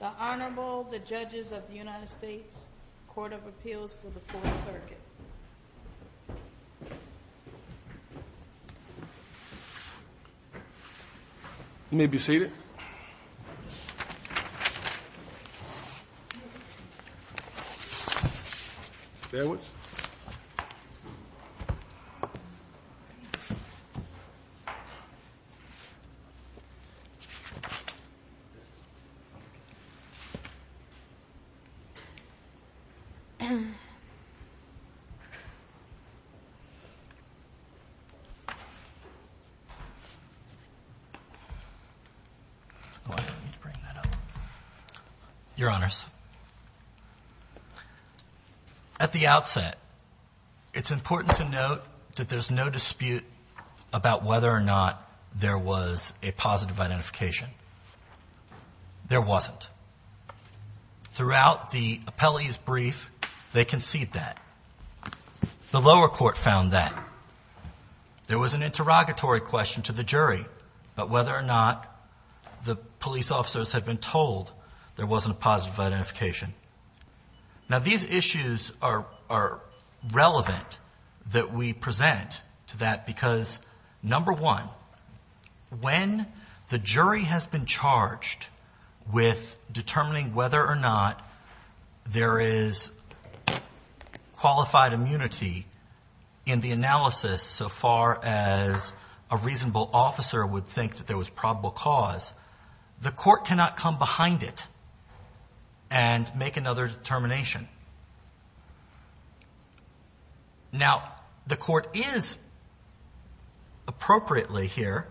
The Honorable, the Judges of the United States Court of Appeals for the Fourth Circuit. You may be seated. Bear with us. Your Honors, at the outset it's important to note that there's no dispute about whether or not there was a positive identification. There wasn't. Throughout the appellee's brief, they concede that. The lower court found that. There was an interrogatory question to the jury about whether or not the police officers had been told there wasn't a positive identification. Now, these issues are relevant that we present to that because, number one, when the jury has been charged with determining whether or not there is qualified immunity in the analysis so far as a reasonable officer would think that there was probable cause, the court cannot come behind it. And make another determination. Now, the court is appropriately here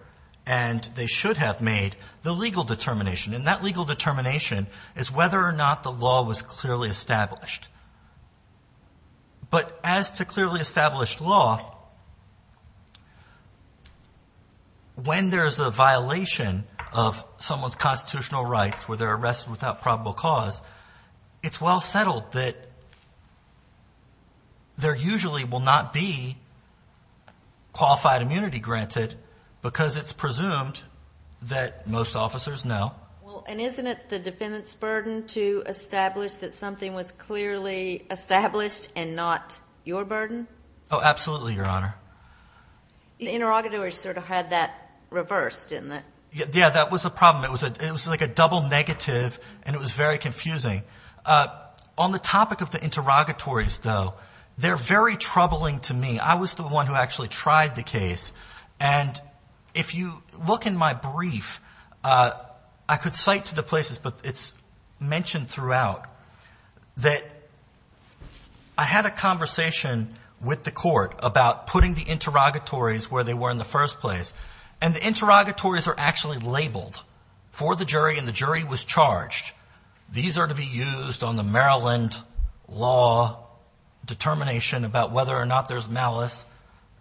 and they should have made the legal determination and that legal determination is whether or not the law was clearly established. But as to clearly established law, when there's a violation of someone's constitutional rights where they're arrested without probable cause, it's well settled that there usually will not be qualified immunity granted because it's presumed that most officers know. Well, and isn't it the defendant's burden to establish that something was clearly established and not your burden? Oh, absolutely, Your Honor. The interrogatory sort of had that reversed, didn't it? Yeah, that was a problem. It was like a double negative and it was very confusing. On the topic of the interrogatories, though, they're very troubling to me. I mean, I was the one who actually tried the case. And if you look in my brief, I could cite to the places but it's mentioned throughout that I had a conversation with the court about putting the interrogatories where they were in the first place. And the interrogatories are actually labeled for the jury and the jury was charged. These are to be used on the Maryland law determination about whether or not there's malice,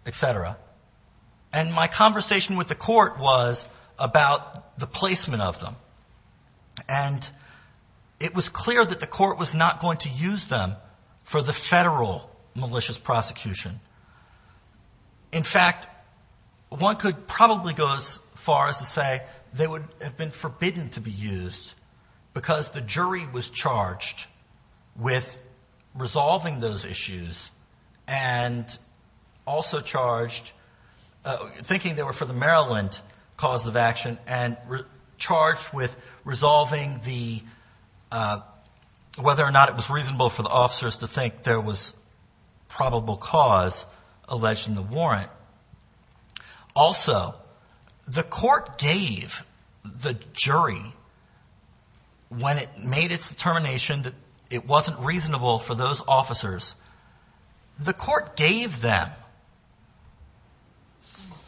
et cetera. And my conversation with the court was about the placement of them. And it was clear that the court was not going to use them for the federal malicious prosecution. In fact, one could probably go as far as to say they would have been forbidden to be used because the jury was charged with resolving those issues. And also charged, thinking they were for the Maryland cause of action and charged with resolving the, whether or not it was reasonable for the officers to think there was probable cause alleged in the warrant. Also, the court gave the jury, when it made its determination that it wasn't reasonable for those officers, the court gave them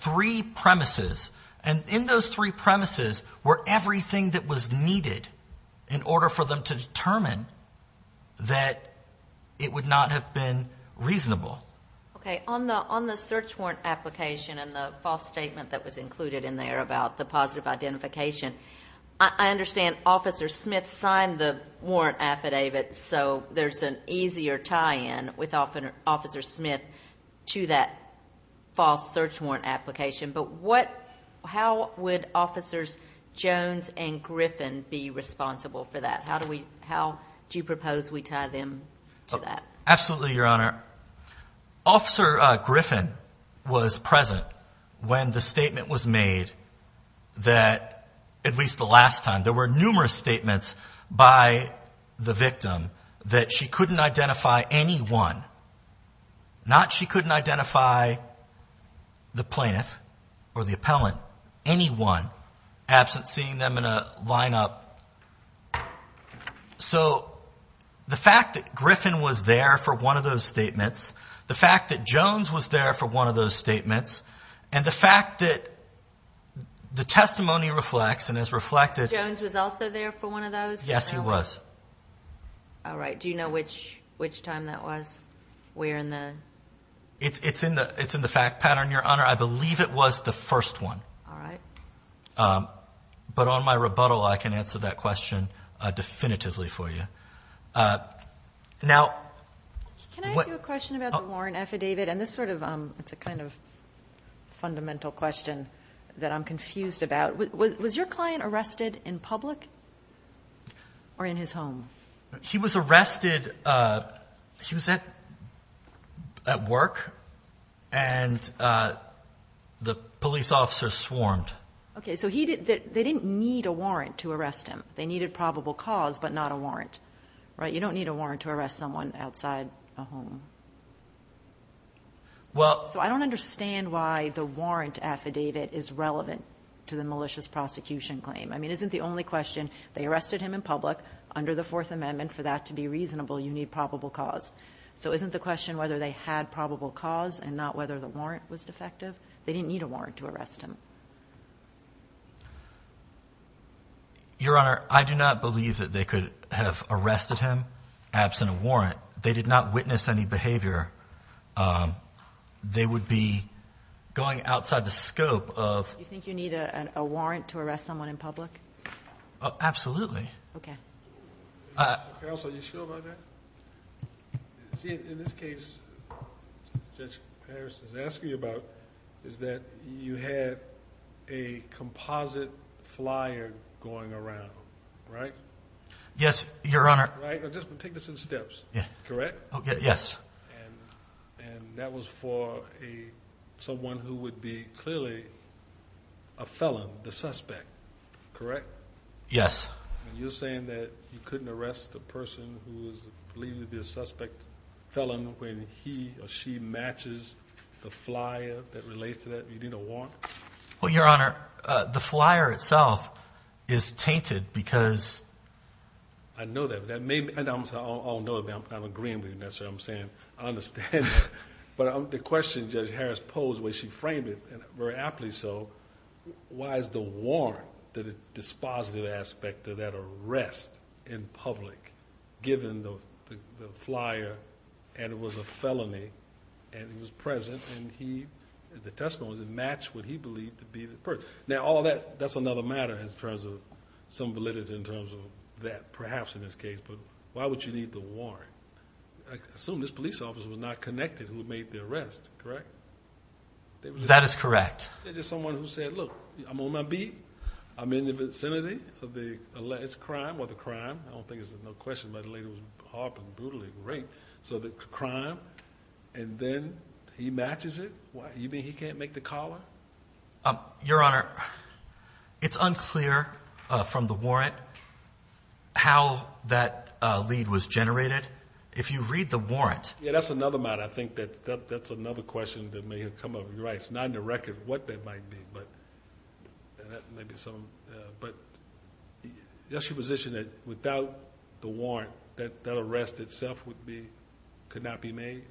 three premises. And in those three premises were everything that was needed in order for them to determine that it would not have been reasonable. Okay. On the search warrant application and the false statement that was included in there about the positive identification, I understand Officer Smith signed the warrant affidavit so there's an easier tie-in with Officer Smith to that false search warrant application. But how would Officers Jones and Griffin be responsible for that? How do you propose we tie them to that? Absolutely, Your Honor. Officer Griffin was present when the statement was made that, at least the last time, there were numerous statements by the victim that she couldn't identify anyone. Not she couldn't identify the plaintiff or the appellant, anyone, absent seeing them in a lineup. So the fact that Griffin was there for one of those statements, the fact that Jones was there for one of those statements, and the fact that the testimony reflects and is reflected... Jones was also there for one of those? Yes, he was. All right. Do you know which time that was? Where in the... It's in the fact pattern, Your Honor. I believe it was the first one. All right. But on my rebuttal, I can answer that question definitively for you. Now... Can I ask you a question about the warrant affidavit? And this sort of... it's a kind of fundamental question that I'm confused about. Was your client arrested in public or in his home? He was arrested... he was at work and the police officer swarmed. So they didn't need a warrant to arrest him. They needed probable cause but not a warrant, right? You don't need a warrant to arrest someone outside a home. Well... So I don't understand why the warrant affidavit is relevant to the malicious prosecution claim. I mean, isn't the only question, they arrested him in public under the Fourth Amendment. For that to be reasonable, you need probable cause. So isn't the question whether they had probable cause and not whether the warrant was defective? They didn't need a warrant to arrest him. Your Honor, I do not believe that they could have arrested him absent a warrant. They did not witness any behavior. They would be going outside the scope of... You think you need a warrant to arrest someone in public? Absolutely. Okay. Counsel, are you sure about that? See, in this case, Judge Harris is asking about is that you had a composite flyer going around, right? Yes, Your Honor. Take this in steps, correct? Yes. And that was for someone who would be clearly a felon, the suspect, correct? Yes. And you're saying that you couldn't arrest a person who is believed to be a suspect felon when he or she matches the flyer that relates to that? You need a warrant? Well, Your Honor, the flyer itself is tainted because... I know that. And I'm saying I don't know, I'm agreeing with you, that's what I'm saying. I understand. But the question Judge Harris posed when she framed it, and very aptly so, why is the warrant, the dispositive aspect of that arrest in public, given the flyer, and it was a felony, and he was present, and the testimony didn't match what he believed to be the person. Now, that's another matter in terms of some validity in terms of that, perhaps, in this case. But why would you need the warrant? I assume this police officer was not connected who made the arrest, correct? That is correct. Someone who said, look, I'm on my beat, I'm in the vicinity of the alleged crime, or the crime, I don't think it's no question, but the lady was harping brutally, rape, so the crime, and then he matches it? You mean he can't make the collar? Your Honor, it's unclear from the warrant how that lead was generated. If you read the warrant... Yeah, that's another matter. I think that's another question that may have come up. You're right, it's not in the record what that might be, but that may be some... But is that your position, that without the warrant, that that arrest itself would be, could not be made?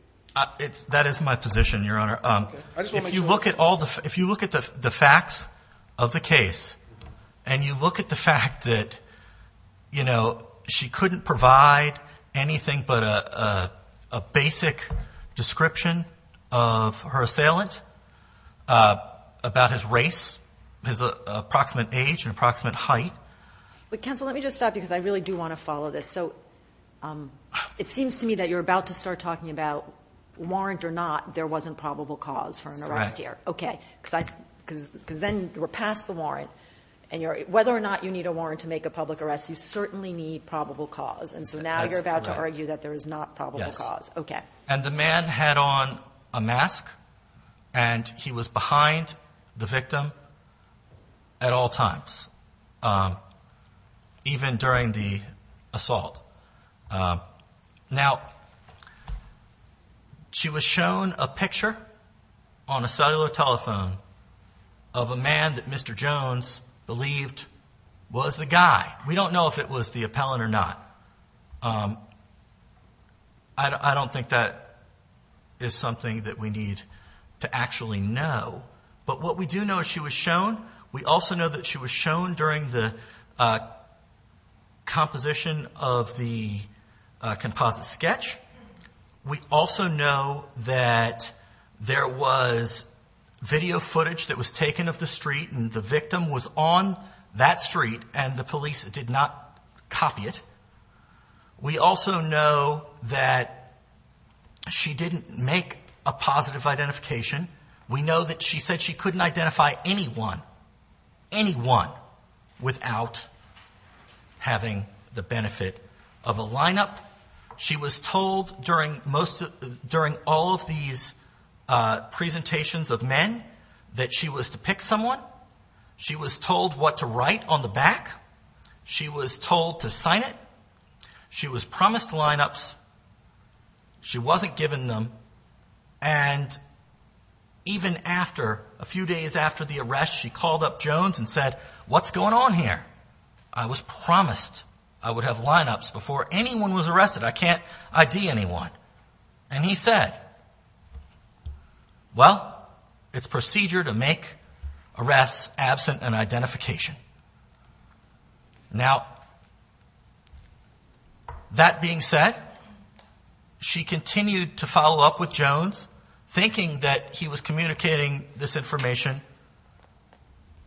That is my position, Your Honor. If you look at all the, if you look at the facts of the case, and you look at the fact that, you know, she couldn't provide anything but a basic description of her assailant, about his race, his approximate age and approximate height. But counsel, let me just stop you, because I really do want to follow this. So, it seems to me that you're about to start talking about warrant or not, there wasn't probable cause for an arrest here. That's correct. Okay. Because then you were passed the warrant, and whether or not you need a warrant to make a public arrest, you certainly need probable cause. And so now you're about to argue that there is not probable cause. Yes. Okay. And the man had on a mask, and he was behind the victim at all times, even during the assault. Now, she was shown a picture on a cellular telephone of a man that Mr. Jones believed was the guy. We don't know if it was the appellant or not. I don't think that is something that we need to actually know. But what we do know is she was shown. We also know that she was shown during the composition of the composite sketch. We also know that there was video footage that was taken of the street, and the victim was on that street, and the police did not copy it. We also know that she didn't make a positive identification. We know that she said she couldn't identify anyone, anyone, without having the benefit of a lineup. She was told during all of these presentations of men that she was to pick someone. She was told what to write on the back. She was told to sign it. She was promised lineups. She wasn't given them. And even after, a few days after the arrest, she called up Jones and said, what's going on here? I was promised I would have lineups before anyone was arrested. I can't ID anyone. And he said, well, it's procedure to make arrests absent an identification. Now, that being said, she continued to follow up with Jones, thinking that he was communicating this information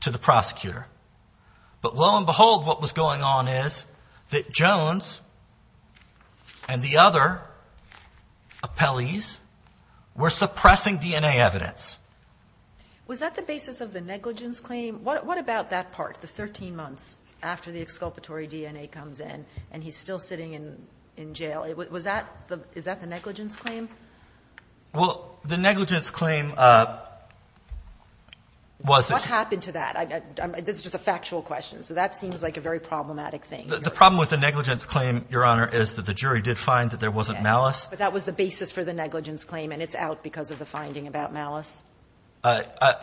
to the prosecutor. But lo and behold, what was going on is that Jones and the other appellees were suppressing DNA evidence. Was that the basis of the negligence claim? What about that part, the 13 months after the exculpatory DNA comes in and he's still sitting in jail? Is that the negligence claim? Well, the negligence claim was. What happened to that? This is just a factual question. So that seems like a very problematic thing. The problem with the negligence claim, Your Honor, is that the jury did find that there wasn't malice. But that was the basis for the negligence claim and it's out because of the finding about malice.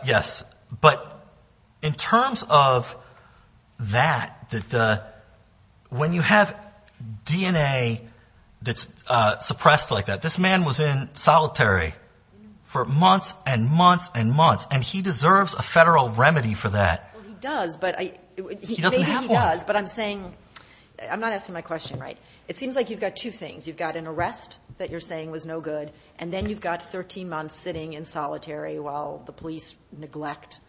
Yes. But in terms of that, when you have DNA that's suppressed like that, this man was in solitary for months and months and months. And he deserves a federal remedy for that. Well, he does, but I. He doesn't have one. But I'm saying. I'm not asking my question right. It seems like you've got two things. You've got an arrest that you're saying was no good. And then you've got 13 months sitting in solitary while the police neglect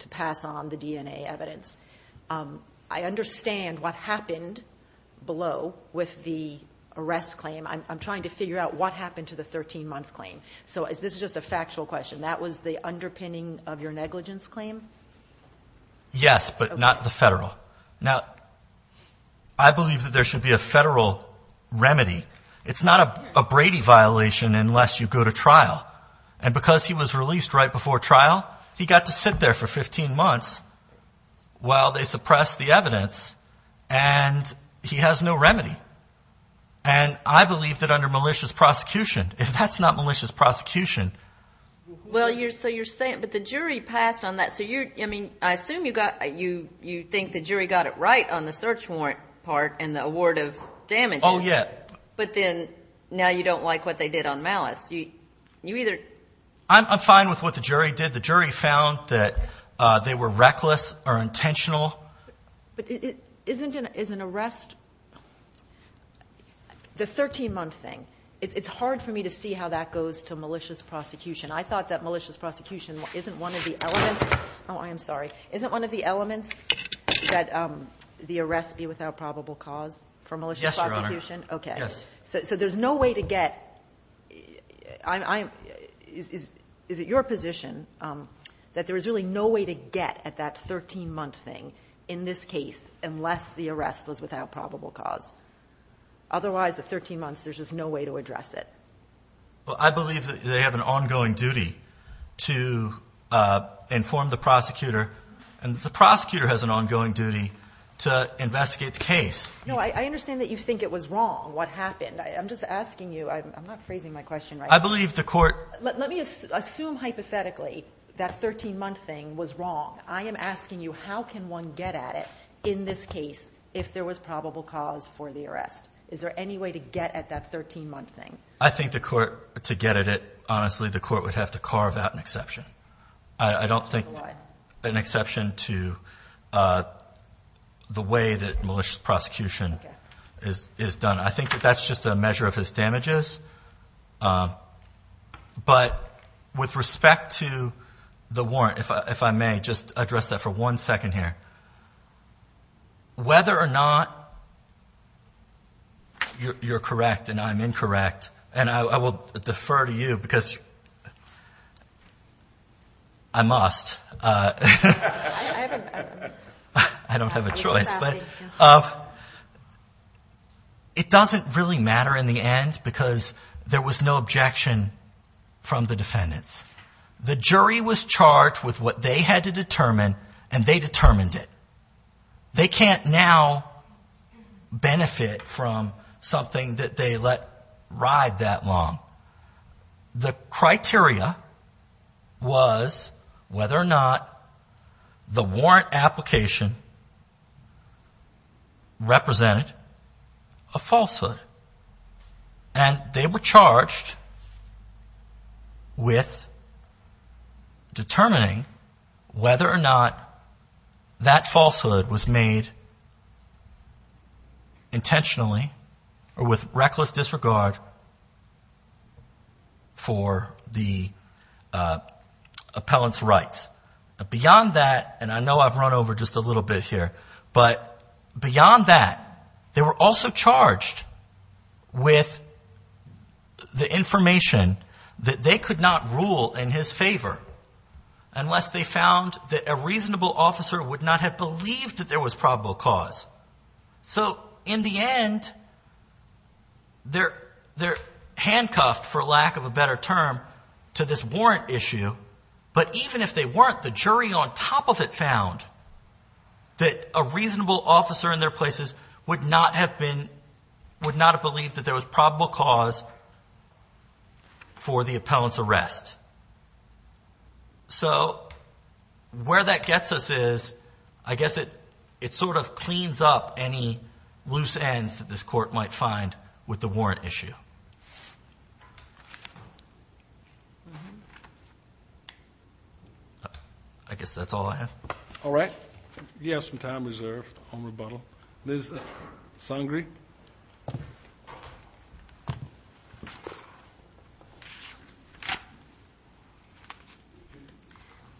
to pass on the DNA evidence. I understand what happened below with the arrest claim. I'm trying to figure out what happened to the 13 month claim. So is this just a factual question? That was the underpinning of your negligence claim? Yes, but not the federal. Now, I believe that there should be a federal remedy. It's not a Brady violation unless you go to trial. And because he was released right before trial, he got to sit there for 15 months while they suppress the evidence. And he has no remedy. And I believe that under malicious prosecution, if that's not malicious prosecution. Well, you're so you're saying. But the jury passed on that. So you're I mean, I assume you got you. You think the jury got it right on the search warrant part and the award of damage. Oh, yeah. But then now you don't like what they did on malice. You either. I'm fine with what the jury did. The jury found that they were reckless or intentional. But it isn't an is an arrest. The 13 month thing. It's hard for me to see how that goes to malicious prosecution. I thought that malicious prosecution isn't one of the elements. Oh, I am sorry. Isn't one of the elements that the arrest be without probable cause for malicious prosecution? OK. So there's no way to get I. Is it your position that there is really no way to get at that 13 month thing in this case unless the arrest was without probable cause? Otherwise, the 13 months, there's just no way to address it. Well, I believe that they have an ongoing duty to inform the prosecutor and the prosecutor has an ongoing duty to investigate the case. No, I understand that you think it was wrong. What happened? I'm just asking you. I'm not phrasing my question. I believe the court. Let me assume hypothetically that 13 month thing was wrong. I am asking you, how can one get at it in this case if there was probable cause for the arrest? Is there any way to get at that 13 month thing? To get at it, honestly, the court would have to carve out an exception. I don't think an exception to the way that malicious prosecution is done. I think that that's just a measure of his damages. But with respect to the warrant, if I may just address that for one second here. Whether or not you're correct and I'm incorrect, and I will defer to you because I must. I don't have a choice. But it doesn't really matter in the end because there was no objection from the defendants. The jury was charged with what they had to determine and they determined it. They can't now benefit from something that they let ride that long. The criteria was whether or not the warrant application represented a falsehood. And they were charged with determining whether or not that falsehood was made intentionally or with reckless disregard for the appellant's rights. Beyond that, and I know I've run over just a little bit here. But beyond that, they were also charged with the information that they could not rule in his favor unless they found that a reasonable officer would not have believed that there was probable cause. So in the end, they're handcuffed, for lack of a better term, to this warrant issue. But even if they weren't, the jury on top of it found that a reasonable officer in their places would not have believed that there was probable cause for the appellant's arrest. So where that gets us is, I guess it sort of cleans up any loose ends that this court might find with the warrant issue. I guess that's all I have. All right. You have some time reserved on rebuttal. Liz Sangree.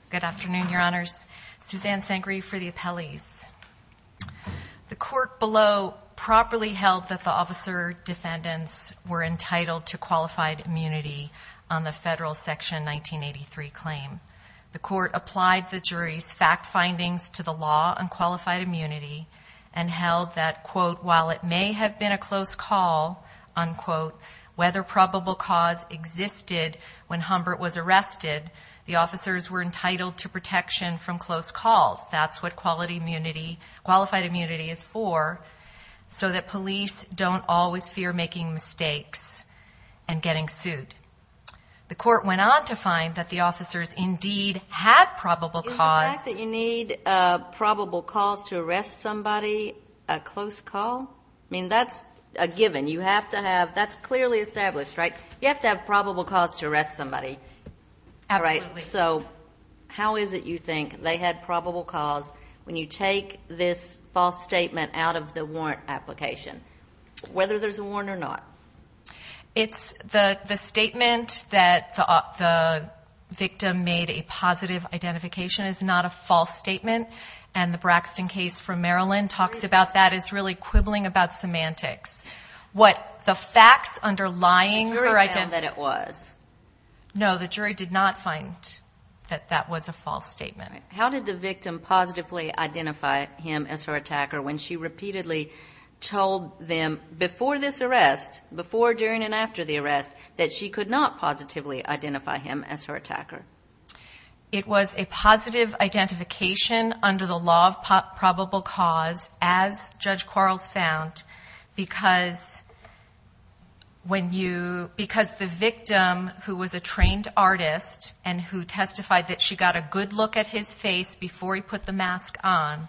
Good afternoon, Your Honors. Suzanne Sangree for the appellees. The court below properly held that the officer defendants were entitled to qualified immunity on the federal Section 1983 claim. The court applied the jury's fact findings to the law on qualified immunity and held that, quote, whether probable cause existed when Humbert was arrested, the officers were entitled to protection from close calls. That's what qualified immunity is for, so that police don't always fear making mistakes and getting sued. The court went on to find that the officers indeed had probable cause. In the fact that you need probable cause to arrest somebody, a close call, I mean, that's a given. You have to have, that's clearly established, right? You have to have probable cause to arrest somebody. Absolutely. All right. So how is it you think they had probable cause when you take this false statement out of the warrant application, whether there's a warrant or not? It's the statement that the victim made a positive identification is not a false statement. And the Braxton case from Maryland talks about that as really quibbling about semantics. What the facts underlying her identity... The jury found that it was. No, the jury did not find that that was a false statement. How did the victim positively identify him as her attacker when she repeatedly told them before this arrest, before, during, and after the arrest, that she could not positively identify him as her attacker? It was a positive identification under the law of probable cause, as Judge Quarles found, because the victim, who was a trained artist and who testified that she got a good look at his face before he put the mask on,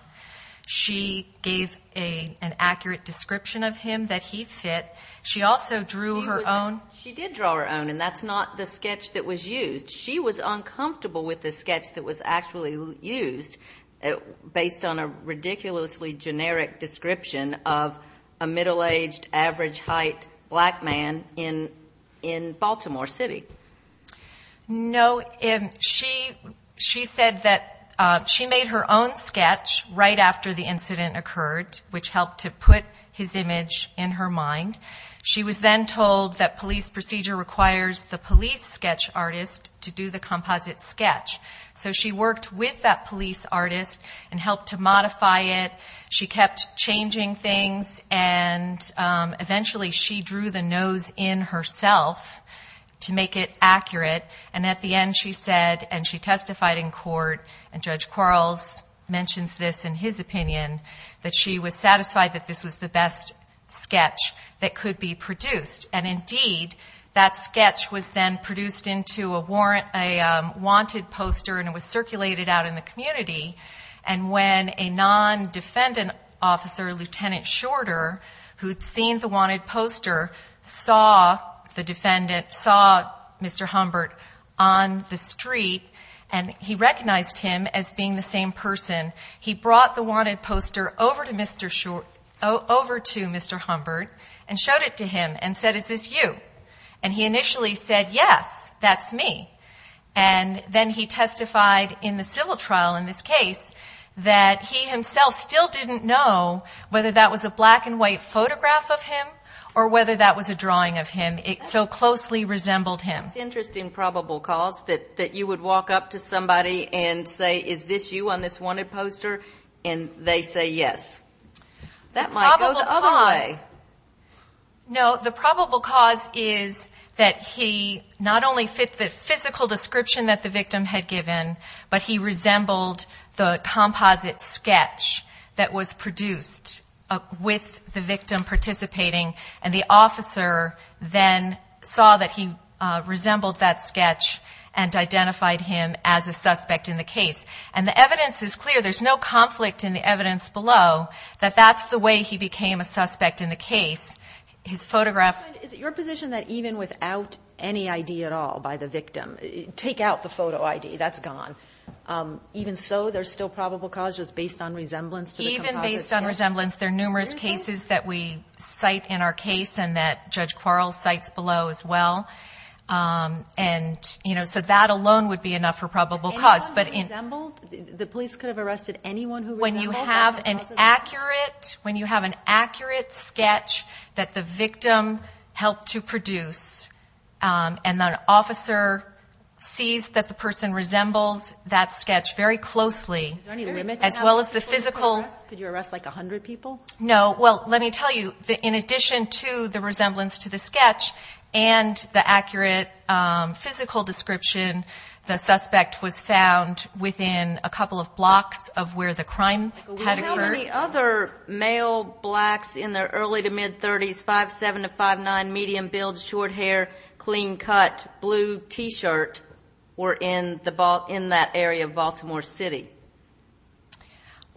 she gave an accurate description of him that he fit. She also drew her own... She did draw her own, and that's not the sketch that was used. She was uncomfortable with the sketch that was actually used, based on a ridiculously generic description of a middle-aged, average-height black man in Baltimore City. No. She said that she made her own sketch right after the incident occurred, which helped to put his image in her mind. She was then told that police procedure requires the police sketch artist to do the composite sketch. So she worked with that police artist and helped to modify it. She kept changing things, and eventually she drew the nose in herself to make it accurate, and at the end she said, and she testified in court, and Judge Quarles mentions this in his opinion, that she was satisfied that this was the best sketch that could be produced. And, indeed, that sketch was then produced into a wanted poster, and it was circulated out in the community. And when a non-defendant officer, Lieutenant Shorter, who had seen the wanted poster, saw the defendant, saw Mr. Humbert on the street, and he recognized him as being the same person, he brought the wanted poster over to Mr. Humbert and showed it to him and said, is this you? And he initially said, yes, that's me. And then he testified in the civil trial in this case that he himself still didn't know whether that was a black-and-white photograph of him or whether that was a drawing of him. It so closely resembled him. That's interesting, probable cause, that you would walk up to somebody and say, is this you on this wanted poster? And they say yes. That might go the other way. No, the probable cause is that he not only fit the physical description that the victim had given, but he resembled the composite sketch that was produced with the victim participating, and the officer then saw that he resembled that sketch and identified him as a suspect in the case. And the evidence is clear. There's no conflict in the evidence below that that's the way he became a suspect in the case. His photograph ---- Is it your position that even without any ID at all by the victim, take out the photo ID, that's gone, even so there's still probable cause just based on resemblance to the composite sketch? There's no resemblance. There are numerous cases that we cite in our case and that Judge Quarles cites below as well. And, you know, so that alone would be enough for probable cause. Anyone who resembled? The police could have arrested anyone who resembled? When you have an accurate sketch that the victim helped to produce, and the officer sees that the person resembles that sketch very closely, as well as the physical ---- No. Well, let me tell you, in addition to the resemblance to the sketch and the accurate physical description, the suspect was found within a couple of blocks of where the crime had occurred. How many other male blacks in their early to mid-30s, 5'7 to 5'9, medium build, short hair, clean cut, blue T-shirt, were in that area of Baltimore City?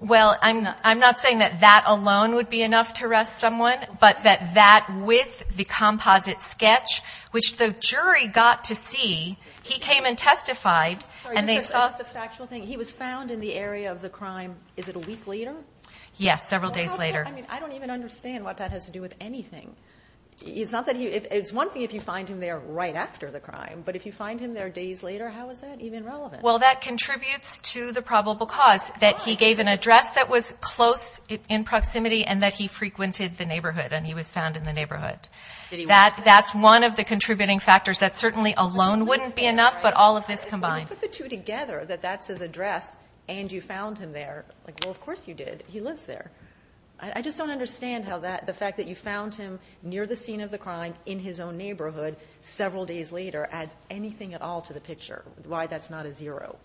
Well, I'm not saying that that alone would be enough to arrest someone, but that that with the composite sketch, which the jury got to see, he came and testified and they saw the factual thing. He was found in the area of the crime, is it a week later? Yes, several days later. I don't even understand what that has to do with anything. It's one thing if you find him there right after the crime, but if you find him there days later, how is that even relevant? Well, that contributes to the probable cause, that he gave an address that was close in proximity and that he frequented the neighborhood and he was found in the neighborhood. That's one of the contributing factors. That certainly alone wouldn't be enough, but all of this combined. If you put the two together, that that's his address and you found him there, well, of course you did, he lives there. I just don't understand how the fact that you found him near the scene of the crime in his own neighborhood several days later adds anything at all to the picture, why that's not a zero.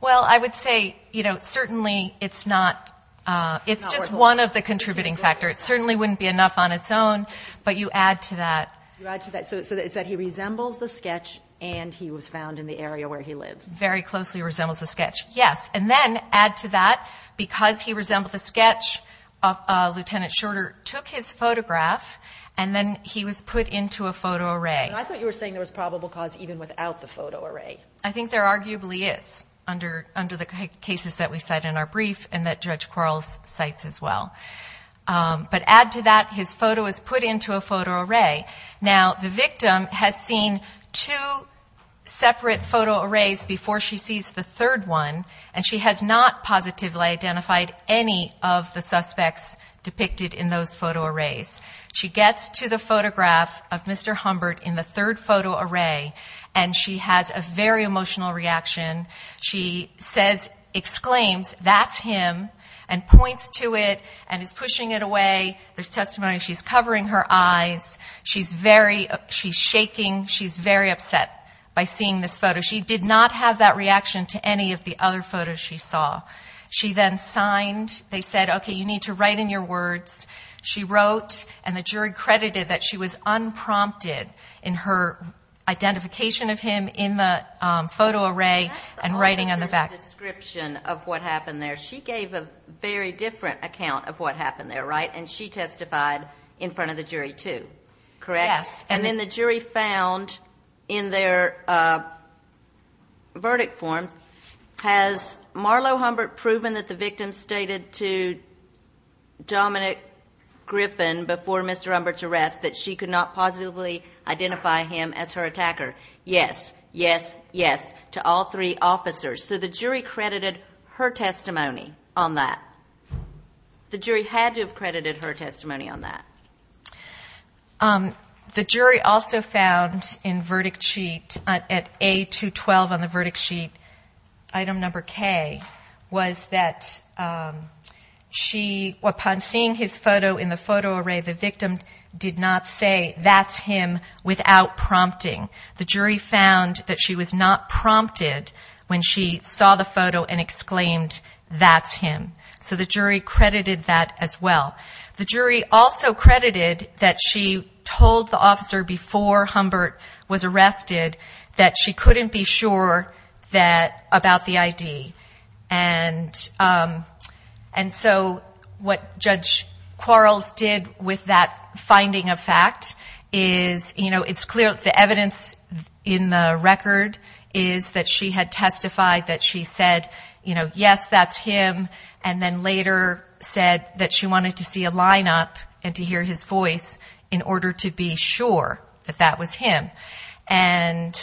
Well, I would say certainly it's just one of the contributing factors. It certainly wouldn't be enough on its own, but you add to that. You add to that. So it's that he resembles the sketch and he was found in the area where he lives. Very closely resembles the sketch, yes. And then add to that, because he resembled the sketch, Lieutenant Shorter took his photograph and then he was put into a photo array. I thought you were saying there was probable cause even without the photo array. I think there arguably is under the cases that we cite in our brief and that Judge Quarles cites as well. But add to that, his photo was put into a photo array. Now, the victim has seen two separate photo arrays before she sees the third one, and she has not positively identified any of the suspects depicted in those photo arrays. She gets to the photograph of Mr. Humbert in the third photo array, and she has a very emotional reaction. She exclaims, that's him, and points to it and is pushing it away. There's testimony she's covering her eyes. She's shaking. She's very upset by seeing this photo. So she did not have that reaction to any of the other photos she saw. She then signed. They said, okay, you need to write in your words. She wrote, and the jury credited that she was unprompted in her identification of him in the photo array and writing on the back. That's the only description of what happened there. She gave a very different account of what happened there, right? And she testified in front of the jury too, correct? Yes. And then the jury found in their verdict form, has Marlo Humbert proven that the victim stated to Dominic Griffin before Mr. Humbert's arrest that she could not positively identify him as her attacker? Yes. Yes. Yes. To all three officers. So the jury credited her testimony on that. The jury had to have credited her testimony on that. The jury also found in verdict sheet, at A212 on the verdict sheet, item number K was that she, upon seeing his photo in the photo array, the victim did not say, that's him, without prompting. The jury found that she was not prompted when she saw the photo and exclaimed, that's him. So the jury credited that as well. The jury also credited that she told the officer before Humbert was arrested that she couldn't be sure about the ID. And so what Judge Quarles did with that finding of fact is, you know, it's clear the evidence in the record is that she had testified that she said, you know, yes, that's him, and then later said that she wanted to see a lineup and to hear his voice in order to be sure that that was him. And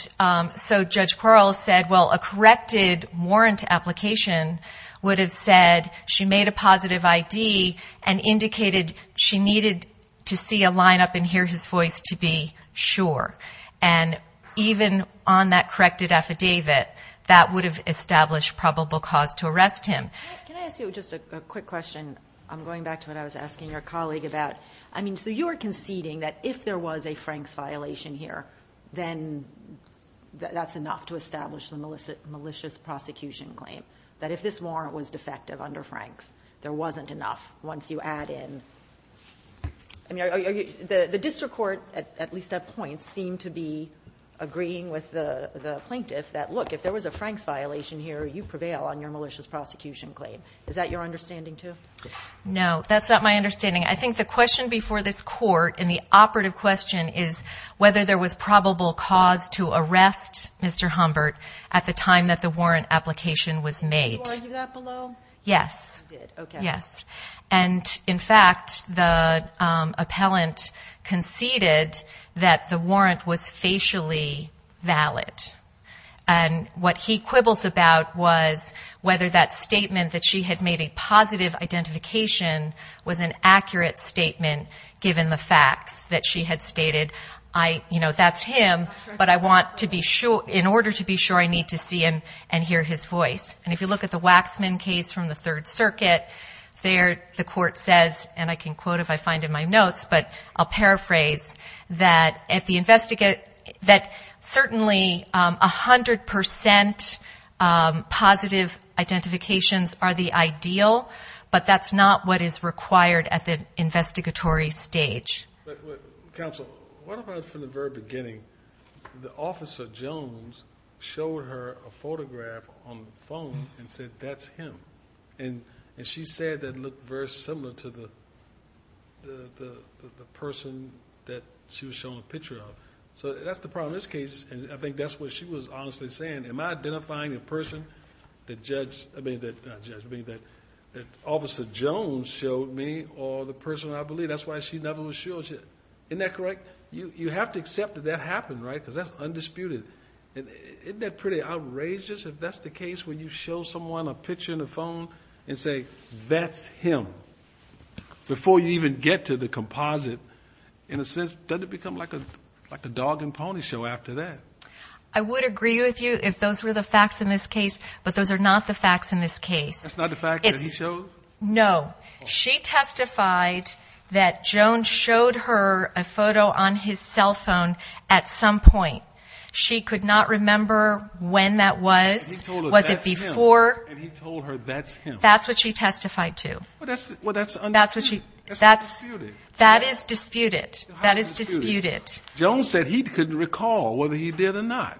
so Judge Quarles said, well, a corrected warrant application would have said she made a positive ID and indicated she needed to see a lineup and hear his voice to be sure. And even on that corrected affidavit, that would have established probable cause to arrest him. Can I ask you just a quick question? I'm going back to what I was asking your colleague about. I mean, so you are conceding that if there was a Franks violation here, then that's enough to establish the malicious prosecution claim, that if this warrant was defective under Franks, there wasn't enough once you add in the district court, at least at points, seemed to be agreeing with the plaintiff that, look, if there was a Franks violation here, you prevail on your malicious prosecution claim. Is that your understanding too? No, that's not my understanding. I think the question before this court in the operative question is whether there was probable cause to arrest Mr. Humbert at the time that the warrant application was made. Did you argue that below? Yes. You did. Okay. Yes. And, in fact, the appellant conceded that the warrant was facially valid. And what he quibbles about was whether that statement that she had made a positive identification was an accurate statement given the facts, that she had stated, you know, that's him, but I want to be sure, in order to be sure, I need to see him and hear his voice. And if you look at the Waxman case from the Third Circuit, there the court says, and I can quote if I find in my notes, but I'll paraphrase, that certainly 100% positive identifications are the ideal, but that's not what is required at the investigatory stage. Counsel, what about from the very beginning? The officer, Jones, showed her a photograph on the phone and said, that's him. And she said that it looked very similar to the person that she was showing a picture of. So that's the problem in this case, and I think that's what she was honestly saying. Am I identifying a person that Officer Jones showed me or the person I believe? That's why she never was shown. Isn't that correct? You have to accept that that happened, right, because that's undisputed. Isn't that pretty outrageous, if that's the case, when you show someone a picture on the phone and say, that's him, before you even get to the composite? In a sense, doesn't it become like a dog and pony show after that? I would agree with you if those were the facts in this case, but those are not the facts in this case. That's not the fact that he showed? No. She testified that Jones showed her a photo on his cell phone at some point. She could not remember when that was. He told her, that's him. Was it before? And he told her, that's him. That's what she testified to. Well, that's undisputed. That is disputed. That is disputed. Jones said he couldn't recall whether he did or not.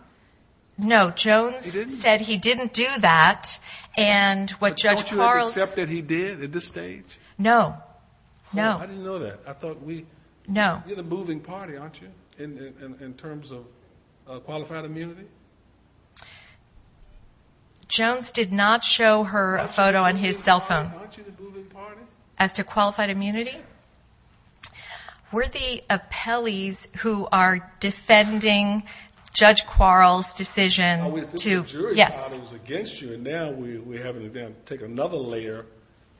No, Jones said he didn't do that. But don't you accept that he did at this stage? No, no. I didn't know that. You're the moving party, aren't you, in terms of qualified immunity? Jones did not show her a photo on his cell phone. Aren't you the moving party? As to qualified immunity? No. We're the appellees who are defending Judge Quarles' decision to yes. We thought the jury was against you, and now we're having to take another layer.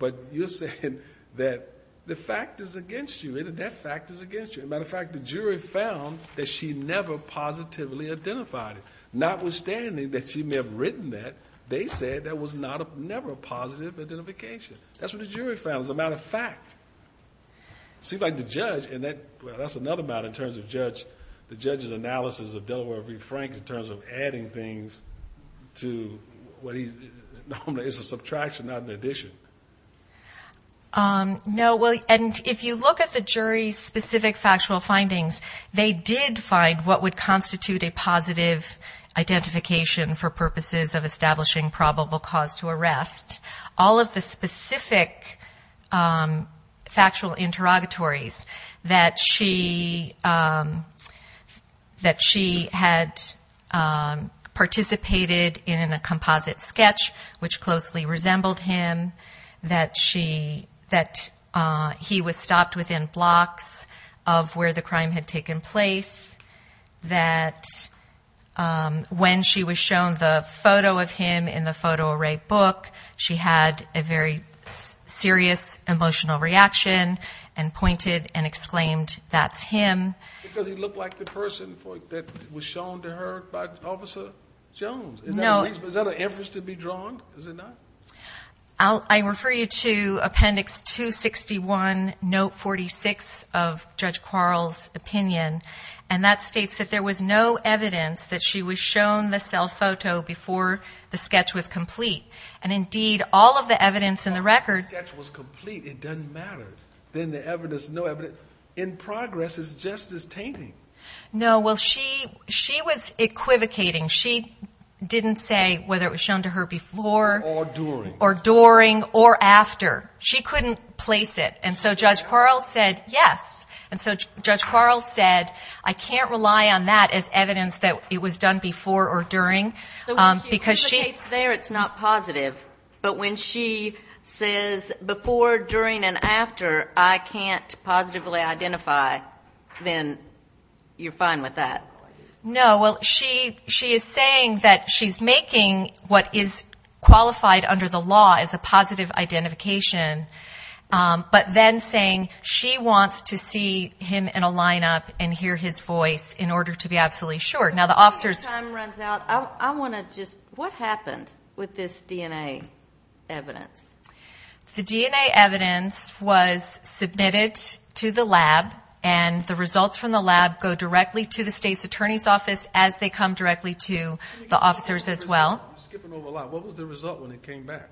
But you're saying that the fact is against you. That fact is against you. As a matter of fact, the jury found that she never positively identified it. Notwithstanding that she may have written that, they said there was never a positive identification. That's what the jury found. As a matter of fact. It seems like the judge, and that's another matter in terms of the judge's analysis of Delaware v. Franks, in terms of adding things to what he's, it's a subtraction, not an addition. No, and if you look at the jury's specific factual findings, they did find what would constitute a positive identification for purposes of establishing probable cause to arrest. All of the specific factual interrogatories, that she had participated in a composite sketch, which closely resembled him, that he was stopped within blocks of where the crime had taken place, that when she was shown the photo of him in the photo array book, she had a very serious emotional reaction and pointed and exclaimed, that's him. Because he looked like the person that was shown to her by Officer Jones. Is that a reference to be drawn? I refer you to appendix 261, note 46 of Judge Quarles' opinion, and that states that there was no evidence that she was shown the cell photo before the sketch was complete. And indeed, all of the evidence in the record... The sketch was complete, it doesn't matter. Then the evidence, no evidence, in progress is just as tainting. No, well, she was equivocating. She didn't say whether it was shown to her before... Or during. Or during or after. She couldn't place it. And so Judge Quarles said, yes. And so Judge Quarles said, I can't rely on that as evidence that it was done before or during. So when she equivocates there, it's not positive. But when she says before, during and after, I can't positively identify, then you're fine with that? No, well, she is saying that she's making what is qualified under the law as a positive identification, but then saying she wants to see him in a lineup and hear his voice in order to be absolutely sure. But before your time runs out, I want to just, what happened with this DNA evidence? The DNA evidence was submitted to the lab, and the results from the lab go directly to the state's attorney's office as they come directly to the officers as well. You're skipping over a lot. What was the result when it came back?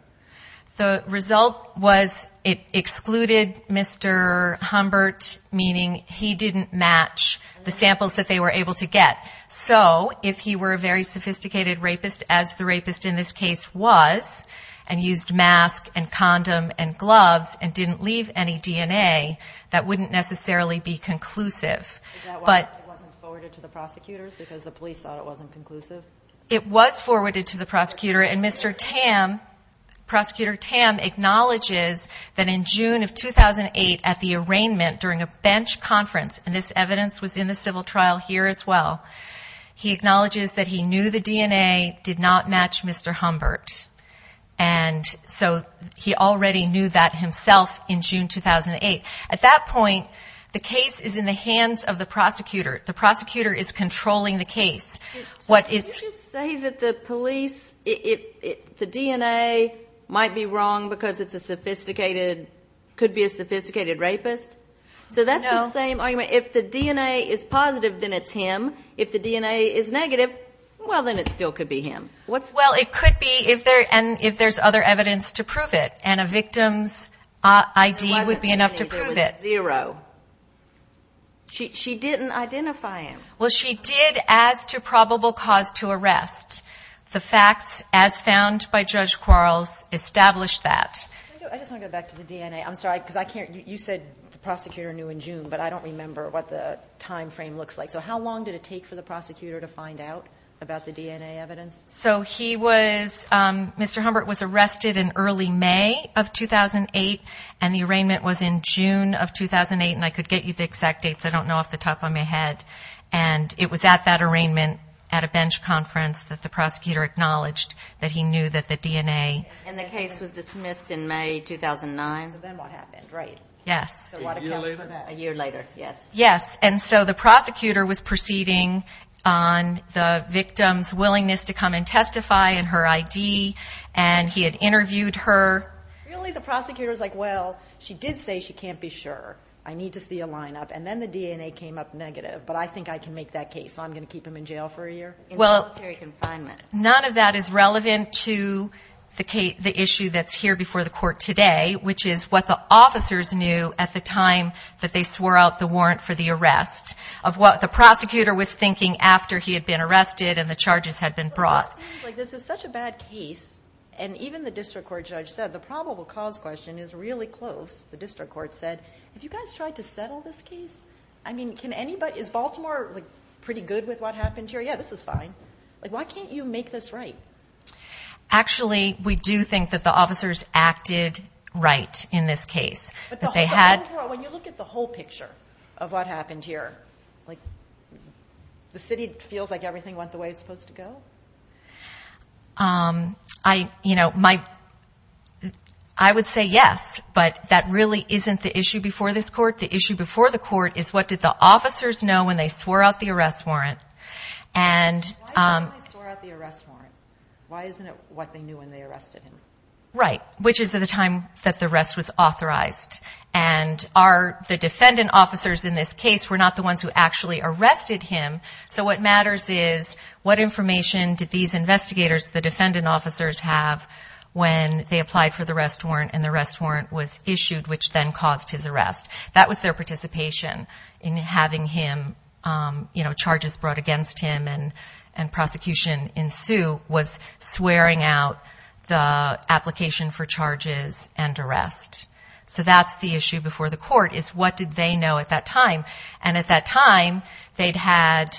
The result was it excluded Mr. Humbert, meaning he didn't match the samples that they were able to get. So if he were a very sophisticated rapist, as the rapist in this case was, and used mask and condom and gloves and didn't leave any DNA, that wouldn't necessarily be conclusive. Is that why it wasn't forwarded to the prosecutors, because the police thought it wasn't conclusive? It was forwarded to the prosecutor, and Mr. Tam, Prosecutor Tam, acknowledges that in June of 2008 at the arraignment during a bench conference, and this evidence was in the civil trial here as well, he acknowledges that he knew the DNA did not match Mr. Humbert. And so he already knew that himself in June 2008. At that point, the case is in the hands of the prosecutor. The prosecutor is controlling the case. Can you just say that the police, the DNA might be wrong because it's a sophisticated, could be a sophisticated rapist? So that's the same argument. If the DNA is positive, then it's him. If the DNA is negative, well, then it still could be him. Well, it could be if there's other evidence to prove it, and a victim's ID would be enough to prove it. She didn't identify him. Well, she did as to probable cause to arrest. The facts, as found by Judge Quarles, established that. I just want to go back to the DNA. I'm sorry, because I can't. You said the prosecutor knew in June, but I don't remember what the time frame looks like. So how long did it take for the prosecutor to find out about the DNA evidence? So he was, Mr. Humbert was arrested in early May of 2008, and the arraignment was in June of 2008, and I could get you the exact dates. I don't know off the top of my head. And it was at that arraignment at a bench conference that the prosecutor acknowledged that he knew that the DNA. And the case was dismissed in May 2009? Yes. And so the prosecutor was proceeding on the victim's willingness to come and testify and her ID, and he had interviewed her. Really, the prosecutor's like, well, she did say she can't be sure. I need to see a lineup. And then the DNA came up negative, but I think I can make that case, so I'm going to keep him in jail for a year? Well, none of that is relevant to the issue that's here before the court today, which is what the officers knew at the time that they swore out the warrant for the arrest, of what the prosecutor was thinking after he had been arrested and the charges had been brought. But this seems like this is such a bad case, and even the district court judge said the probable cause question is really close. The district court said, have you guys tried to settle this case? I mean, is Baltimore pretty good with what happened here? Yeah, this is fine. Why can't you make this right? Actually, we do think that the officers acted right in this case. When you look at the whole picture of what happened here, the city feels like everything went the way it's supposed to go? I would say yes, but that really isn't the issue before this court. The issue before the court is what did the officers know when they swore out the arrest warrant? Why didn't they swore out the arrest warrant? Why isn't it what they knew when they arrested him? Right. Which is at the time that the arrest was authorized. And the defendant officers in this case were not the ones who actually arrested him. So what matters is what information did these investigators, the defendant officers, have when they applied for the arrest warrant and the arrest warrant was issued, which then caused his arrest. That was their participation in having him, you know, charges brought against him and prosecution ensued was swearing out the application for charges and arrest. So that's the issue before the court is what did they know at that time? And at that time they'd had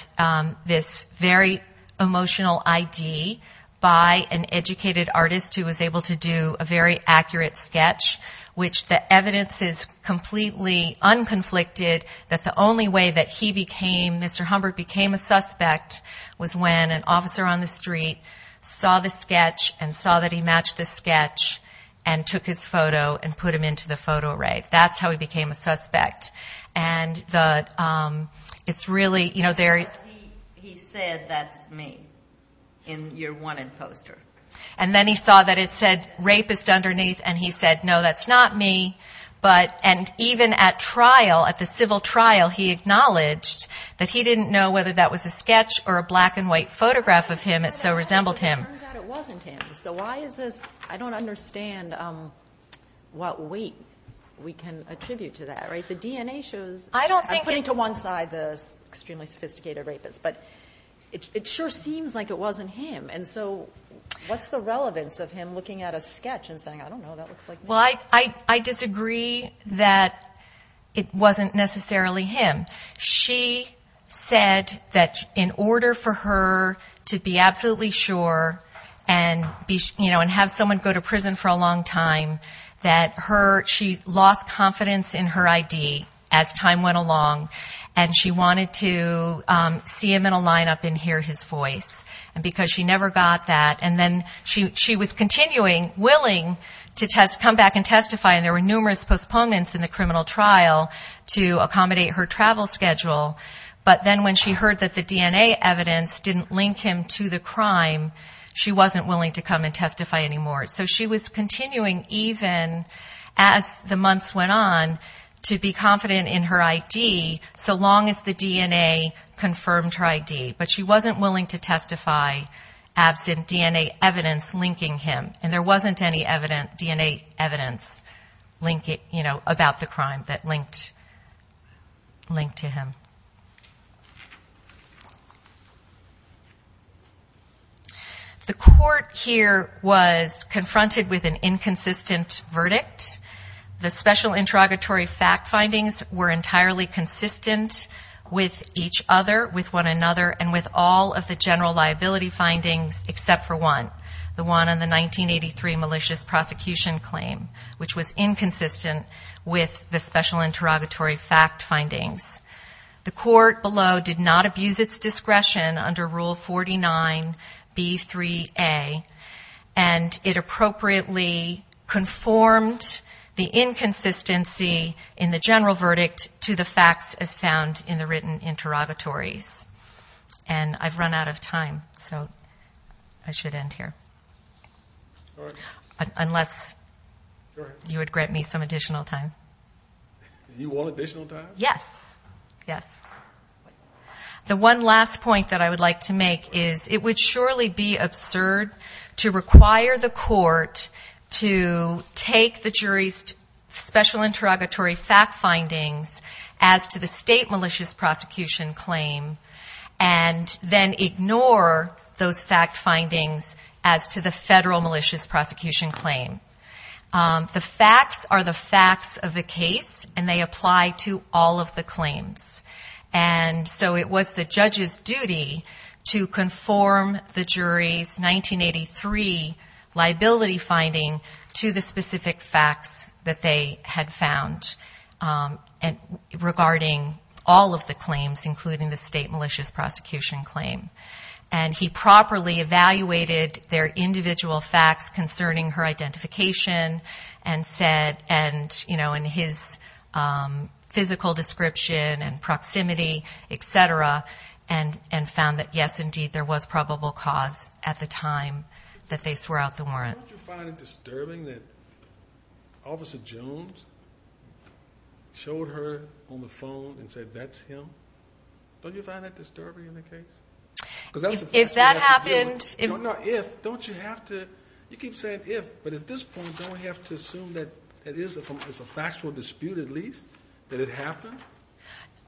this very emotional I.D. by an educated artist who was able to do a very accurate sketch, which the evidence is completely unconflicted that the only way that he became, Mr. Humbert became a suspect was when an officer on the street saw the sketch and saw that he matched the sketch and took his photo and put him into the photo array. That's how he became a suspect. And it's really, you know, there is. He said that's me in your wanted poster. And then he saw that it said rapist underneath. And he said, no, that's not me. But and even at trial at the civil trial, he acknowledged that he didn't know whether that was a sketch or a black and white photograph of him. It so resembled him. So why is this? I don't understand what weight we can attribute to that. Right. The DNA shows. I don't think putting to one side this extremely sophisticated rapist. But it sure seems like it wasn't him. And so what's the relevance of him looking at a sketch and saying, I don't know, that looks like. Well, I, I, I disagree that it wasn't necessarily him. She said that in order for her to be absolutely sure and be, you know, and have someone go to prison for a long time, that her she lost confidence in her I.D. as time went along. And she wanted to see him in a lineup and hear his voice. And because she never got that. And then she was continuing willing to test, come back and testify. And there were numerous postponements in the criminal trial to accommodate her travel schedule. But then when she heard that the DNA evidence didn't link him to the crime, she wasn't willing to come and testify anymore. So she was continuing, even as the months went on, to be confident in her I.D., so long as the DNA confirmed her I.D. But she wasn't willing to testify absent DNA evidence linking him. And there wasn't any DNA evidence linking, you know, about the crime that linked, linked to him. The court here was confronted with an inconsistent verdict. The special interrogatory fact findings were entirely consistent with each other, with one another, and with all of the general liability findings except for one. The one on the 1983 malicious prosecution claim, which was inconsistent with the special interrogatory fact findings. The court below did not abuse its discretion under Rule 49B3A, and it appropriately conformed the inconsistency in the general verdict to the facts as found in the written interrogatories. And I've run out of time, so I should end here. Unless you would grant me some additional time. You want additional time? Yes. Yes. The one last point that I would like to make is it would surely be absurd to require the court to take the jury's special interrogatory fact findings as to the state malicious prosecution claim, and then ignore those fact findings as to the federal malicious prosecution claim. The facts are the facts of the case, and they apply to all of the claims. And so it was the judge's duty to conform the jury's 1983 liability finding to the specific facts that they had found. Regarding all of the claims, including the state malicious prosecution claim. And he properly evaluated their individual facts concerning her identification, and said in his physical description and proximity, et cetera, and found that, yes, indeed, there was probable cause at the time that they swore out the warrant. Don't you find it disturbing that Officer Jones showed her on the phone and said, that's him? Don't you find that disturbing in the case? If that happened... You keep saying if, but at this point, don't we have to assume that it's a factual dispute at least, that it happened?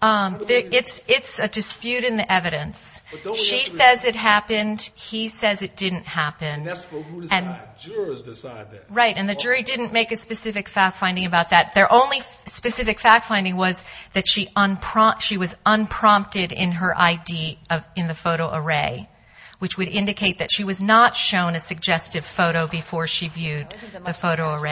It's a dispute in the evidence. She says it happened, he says it didn't happen. And the jury didn't make a specific fact finding about that. Their only specific fact finding was that she was unprompted in her I.D. in the photo array, which would indicate that she was not shown a suggestive photo before she viewed the photo array.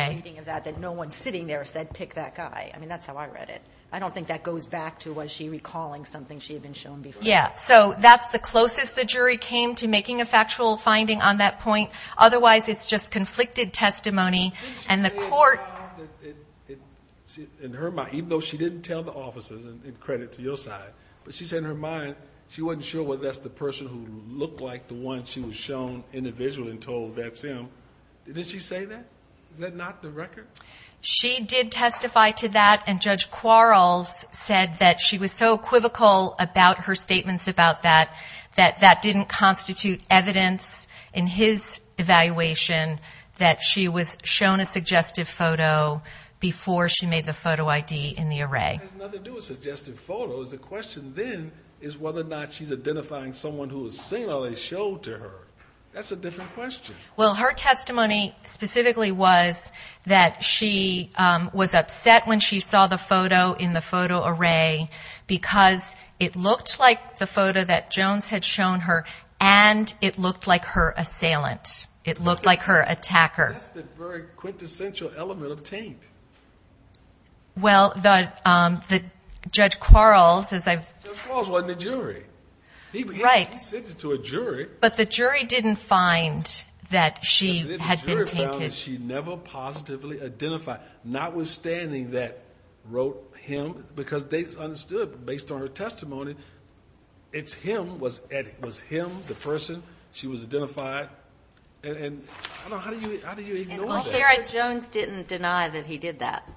I don't think that goes back to, was she recalling something she had been shown before? Yeah, so that's the closest the jury came to making a factual finding on that point. Otherwise, it's just conflicted testimony, and the court... In her mind, even though she didn't tell the officers, and credit to your side, but she said in her mind, she wasn't sure whether that's the person who looked like the one she was shown individually and told, that's him. Did she say that? Is that not the record? She did testify to that, and Judge Quarles said that she was so equivocal about her statements about that, that that didn't constitute evidence in his evaluation, that she was shown a suggestive photo before she made the photo I.D. in the array. That has nothing to do with suggestive photos. The question then is whether or not she's identifying someone who is singularly shown to her. That's a different question. Well, her testimony specifically was that she was upset when she saw the photo in the photo array, because it looked like the photo that Jones had shown her, and it looked like her assailant. It looked like her attacker. That's the very quintessential element of taint. Judge Quarles wasn't a jury. He sent it to a jury. But the jury didn't find that she had been tainted. The jury found that she never positively identified, notwithstanding that wrote him, because they understood, based on her testimony, it's him. Was him the person? She was identified. How do you ignore that? He did deny that he did that.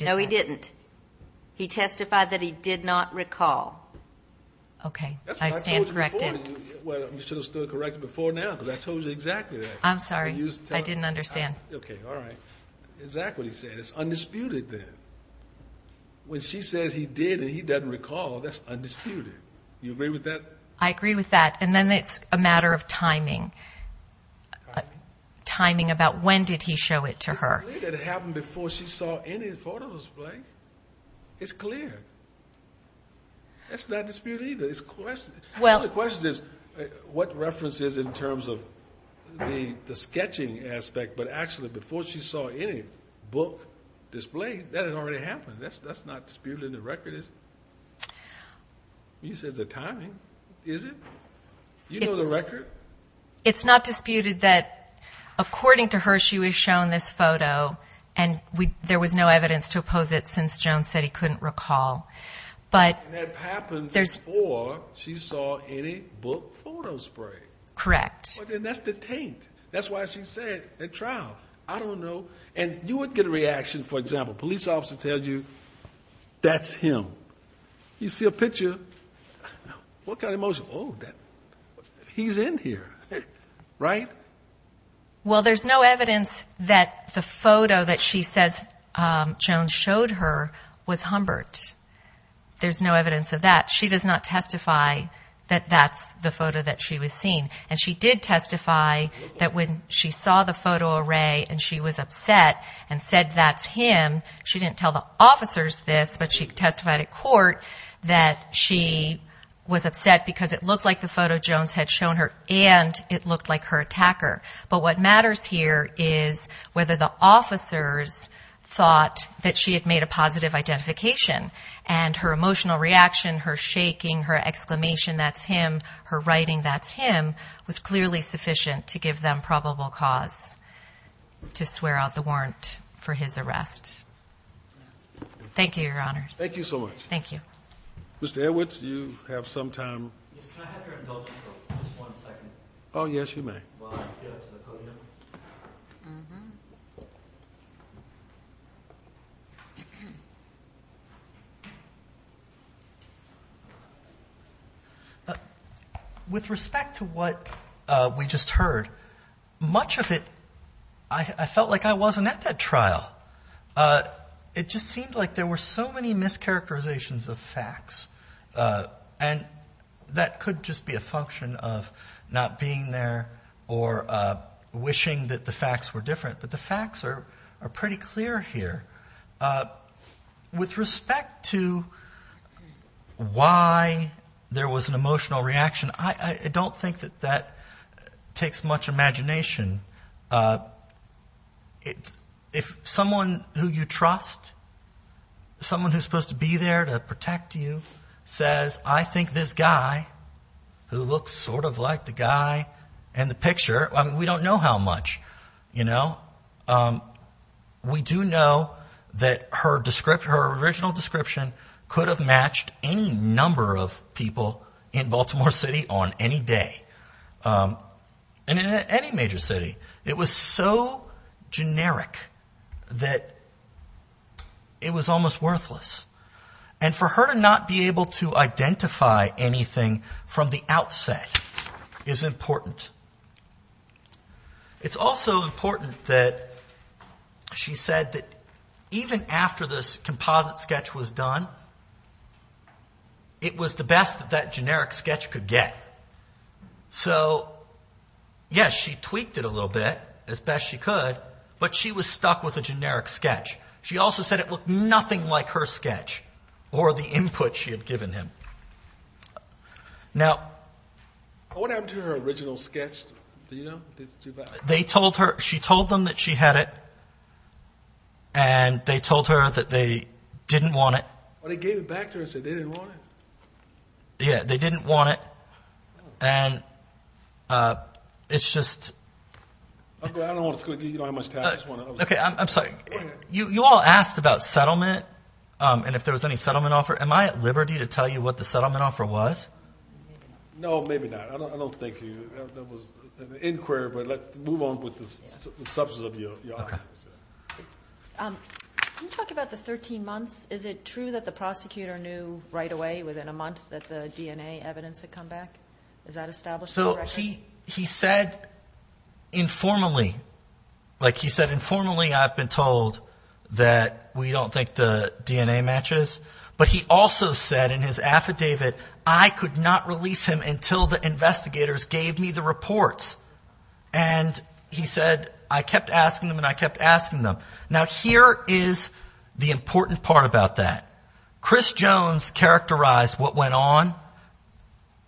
No, he didn't. He testified that he did not recall. That's what I told you before. I'm sorry. I didn't understand. Okay, all right. Exactly what he said. It's undisputed then. When she says he did and he doesn't recall, that's undisputed. You agree with that? I agree with that, and then it's a matter of timing. Timing about when did he show it to her? It's clear. The question is what references in terms of the sketching aspect, but actually before she saw any book displayed, that had already happened. That's not disputed in the record, is it? You said the timing, is it? You know the record? It's not disputed that according to her, she was shown this photo, and there was no evidence to oppose it since Jones said he couldn't recall. And that happened before she saw any book photo spray. Correct. And that's the taint. That's why she said at trial. I don't know. And you would get a reaction, for example, police officer tells you that's him. You see a picture, what kind of emotion? Oh, he's in here, right? Well, there's no evidence that the photo that she says Jones showed her was Humbert. There's no evidence of that. She does not testify that that's the photo that she was seen. And she did testify that when she saw the photo array and she was upset and said that's him, she didn't tell the officers this, but she testified at court that she was upset because it looked like the photo Jones had shown her and it looked like her attacker. But what matters here is whether the officers thought that she had made a positive identification and her emotional reaction, her shaking, her exclamation, that's him, her writing, that's him was clearly sufficient to give them probable cause to swear out the warrant for his arrest. Thank you, Your Honors. Thank you so much. Thank you. With respect to what we just heard, much of it, I felt like I wasn't at that trial. It just seemed like there were so many mischaracterizations of facts. And that could just be a function of not being there or wishing that the facts were different. But the facts are pretty clear here. With respect to why there was an emotional reaction, I don't think that that takes much imagination. If someone who you trust, someone who's supposed to be there to protect you, says, I think this guy who looks sort of like the guy in the picture, we don't know how much. We do know that her original description could have matched any number of people in Baltimore City on any day. And in any major city, it was so generic that it was almost worthless. And for her to not be able to identify anything from the outset is important. It's also important that she said that even after this composite sketch was done, it was the best that that generic sketch could get. So, yes, she tweaked it a little bit, as best she could, but she was stuck with a generic sketch. She also said it looked nothing like her sketch or the input she had given him. Now... What happened to her original sketch? She told them that she had it, and they told her that they didn't want it. They gave it back to her and said they didn't want it? Yeah, they didn't want it. You all asked about settlement and if there was any settlement offer. Am I at liberty to tell you what the settlement offer was? No, maybe not. I don't think there was an inquiry, but let's move on with the substance of your argument. Can you talk about the 13 months? Is it true that the prosecutor knew right away, within a month, that the DNA evidence had come back? Is that established in the record? Well, he said informally, like he said informally, I've been told that we don't think the DNA matches. But he also said in his affidavit, I could not release him until the investigators gave me the reports. And he said, I kept asking them and I kept asking them. Now, here is the important part about that. Chris Jones characterized what went on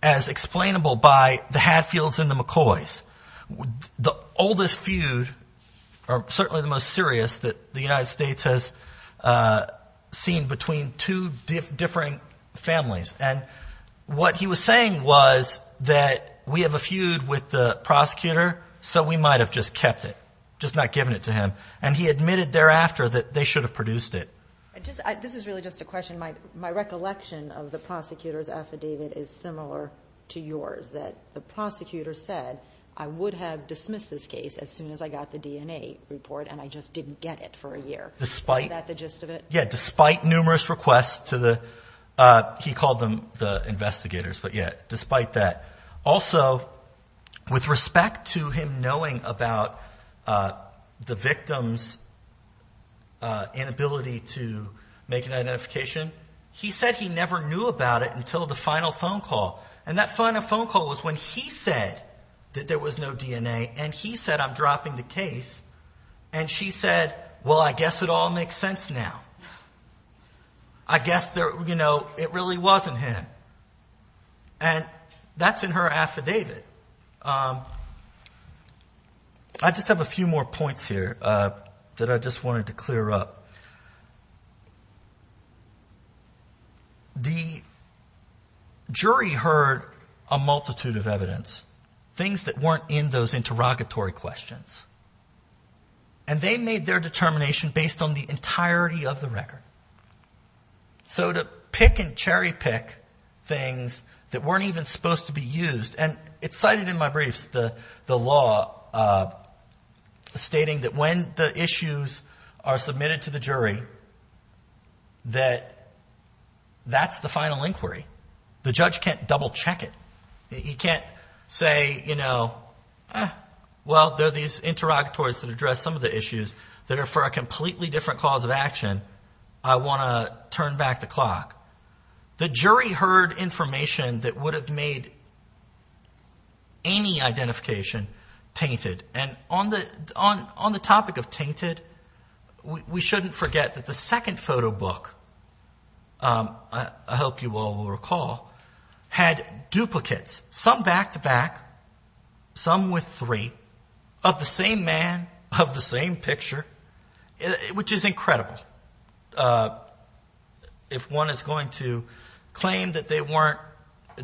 as explainable by the Hatfields and the McCoys. The oldest feud or certainly the most serious that the United States has seen between two different families. And what he was saying was that we have a feud with the prosecutor. So we might have just kept it, just not given it to him. And he admitted thereafter that they should have produced it. This is really just a question. My recollection of the prosecutor's affidavit is similar to yours, that the prosecutor said, I would have dismissed this case as soon as I got the DNA report and I just didn't get it for a year. Despite the gist of it? Yeah, despite numerous requests to the, he called them the investigators. But yeah, despite that. Also, with respect to him knowing about the victim's inability to make an identification, he said he never knew about it until the final phone call. And that final phone call was when he said that there was no DNA and he said, I'm dropping the case. And she said, well, I guess it all makes sense now. I guess it really wasn't him. And that's in her affidavit. I just have a few more points here that I just wanted to clear up. The jury heard a multitude of evidence, things that weren't in those interrogatory questions. And they made their determination based on the entirety of the record. So to pick and cherry pick things that weren't even supposed to be used. And it's cited in my briefs, the law stating that when the issues are submitted to the jury, that that's the final inquiry. The judge can't double check it. You can't say, you know, well, there are these interrogatories that address some of the issues that are for a completely different cause of action. I want to turn back the clock. The jury heard information that would have made any identification tainted. And on the topic of tainted, we shouldn't forget that the second photo book, I hope you all will recall, had duplicates, some back to back, some with three, of the same man, of the same picture, which is incredible. If one is going to claim that they weren't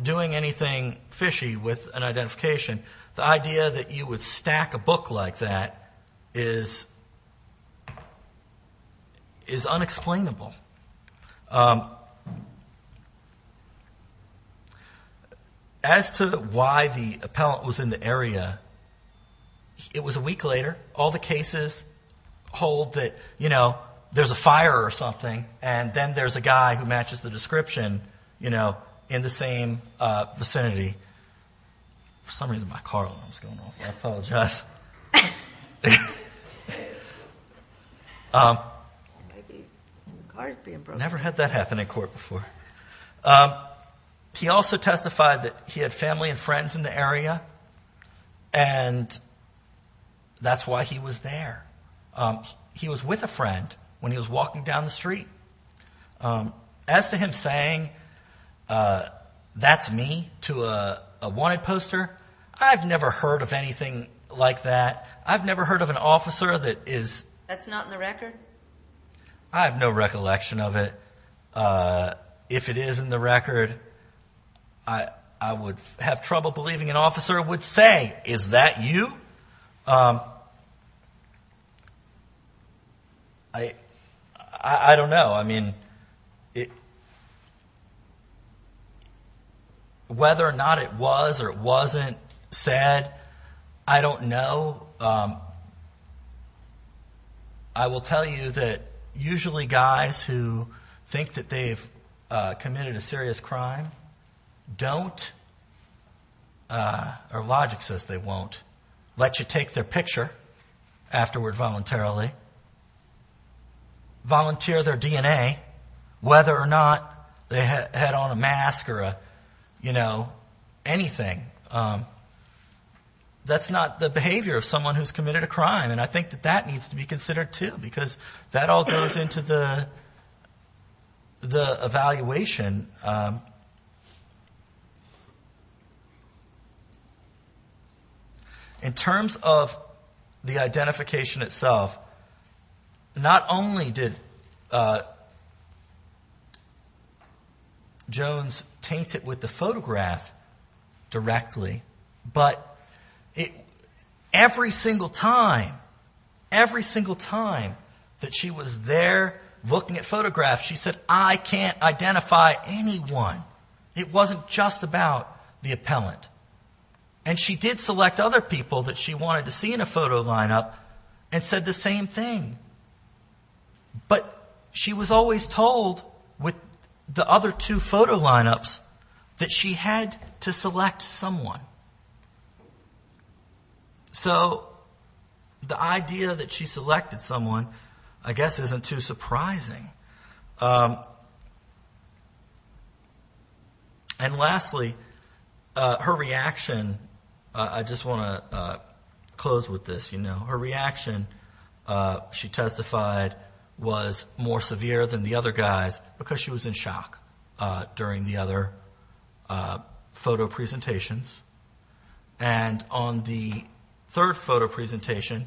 doing anything fishy with an identification, the idea that you would stack a book like that is unexplainable. As to why the appellant was in the area, it was a week later. All the cases hold that, you know, there's a fire or something. And then there's a guy who matches the description, you know, in the same vicinity. For some reason my car alarm is going off. I apologize. Never had that happen in court before. He also testified that he had family and friends in the area, and that's why he was there. He was with a friend when he was walking down the street. As to him saying, that's me, to a wanted poster, I've never heard of anything like that. I've never heard of an officer that is... I have no recollection of it. If it is in the record, I would have trouble believing an officer would say, is that you? I don't know. Whether or not it was or wasn't said, I don't know. I will tell you that usually guys who think that they've committed a serious crime don't, or logic says they won't, let you take their picture afterward voluntarily, volunteer their DNA, whether or not they had on a mask or, you know, anything. That's not the behavior of someone who's committed a crime, and I think that that needs to be considered too, because that all goes into the evaluation. In terms of the identification itself, not only did Jones taint it with the photograph, directly, but every single time, every single time that she was there looking at photographs, she said, I can't identify anyone. It wasn't just about the appellant. And she did select other people that she wanted to see in a photo lineup and said the same thing. But she was always told, with the other two photo lineups, that she had to select someone. So the idea that she selected someone, I guess, isn't too surprising. And lastly, her reaction, I just want to close with this. You know, her reaction, she testified, was more severe than the other guys, because she was in shock during the other photo presentations. And on the third photo presentation,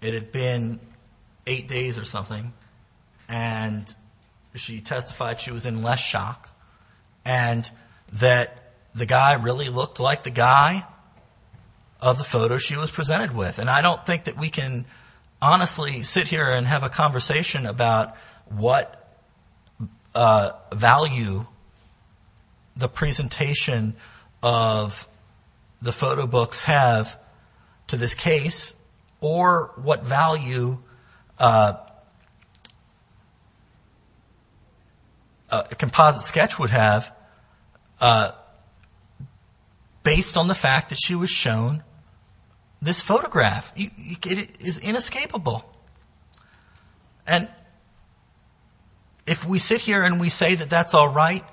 it had been eight days or something, and she testified she was in less shock, and that the guy really looked like the guy of the photo she was presented with. And I don't think that we can honestly sit here and have a conversation about what value the presentation of the photo books have to this case, or what value a composite sketch would have based on the fact that she was shown this photograph. It is inescapable. And if we sit here and we say that that's all right,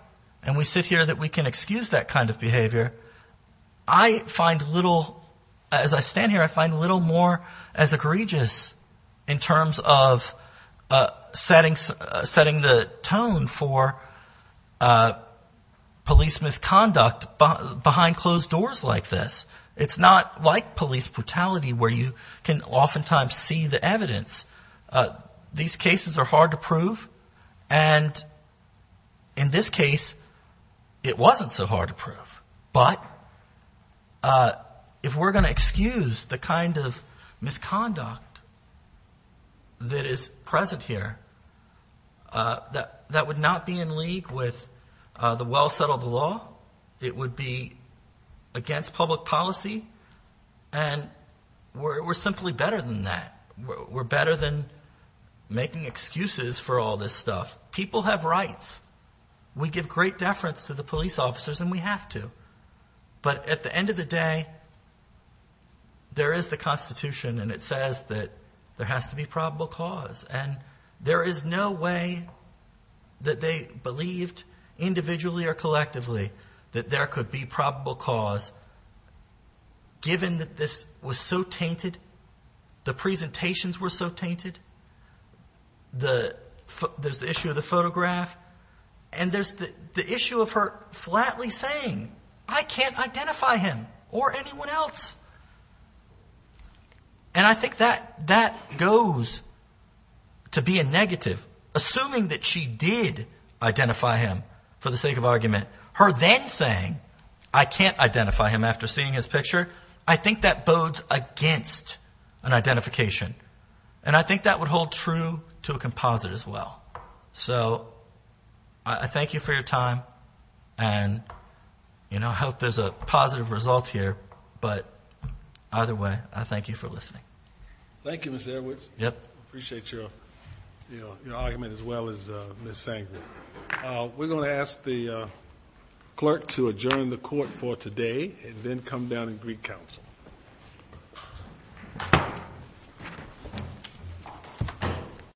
and we sit here that we can excuse that kind of behavior, I find little, as I stand here, I find little more egregious in terms of setting the tone for police misconduct behind closed doors like this. It's not like police brutality, where you can oftentimes see the evidence. These cases are hard to prove, and in this case, it wasn't so hard to prove. But if we're going to excuse the kind of misconduct that is present here, that would not be in league with the well-settled law. It would be against public policy, and we're simply better than that. We're better than making excuses for all this stuff. People have rights. We give great deference to the police officers, and we have to. But at the end of the day, there is the Constitution, and it says that there has to be probable cause. And there is no way that they believed, individually or collectively, that there could be probable cause, given that this was so tainted, the presentations were so tainted, there's the issue of the photograph, and there's the issue of her flatly saying, I can't identify him or anyone else. And I think that goes to be a negative. Assuming that she did identify him for the sake of argument, her then saying, I can't identify him after seeing his picture, I think that bodes against an identification. And I think that would hold true to a composite as well. So I thank you for your time, and I hope there's a positive result here. But either way, I thank you for listening. Thank you, Mr. Edwards. We're going to ask the clerk to adjourn the court for today, and then come down and greet counsel.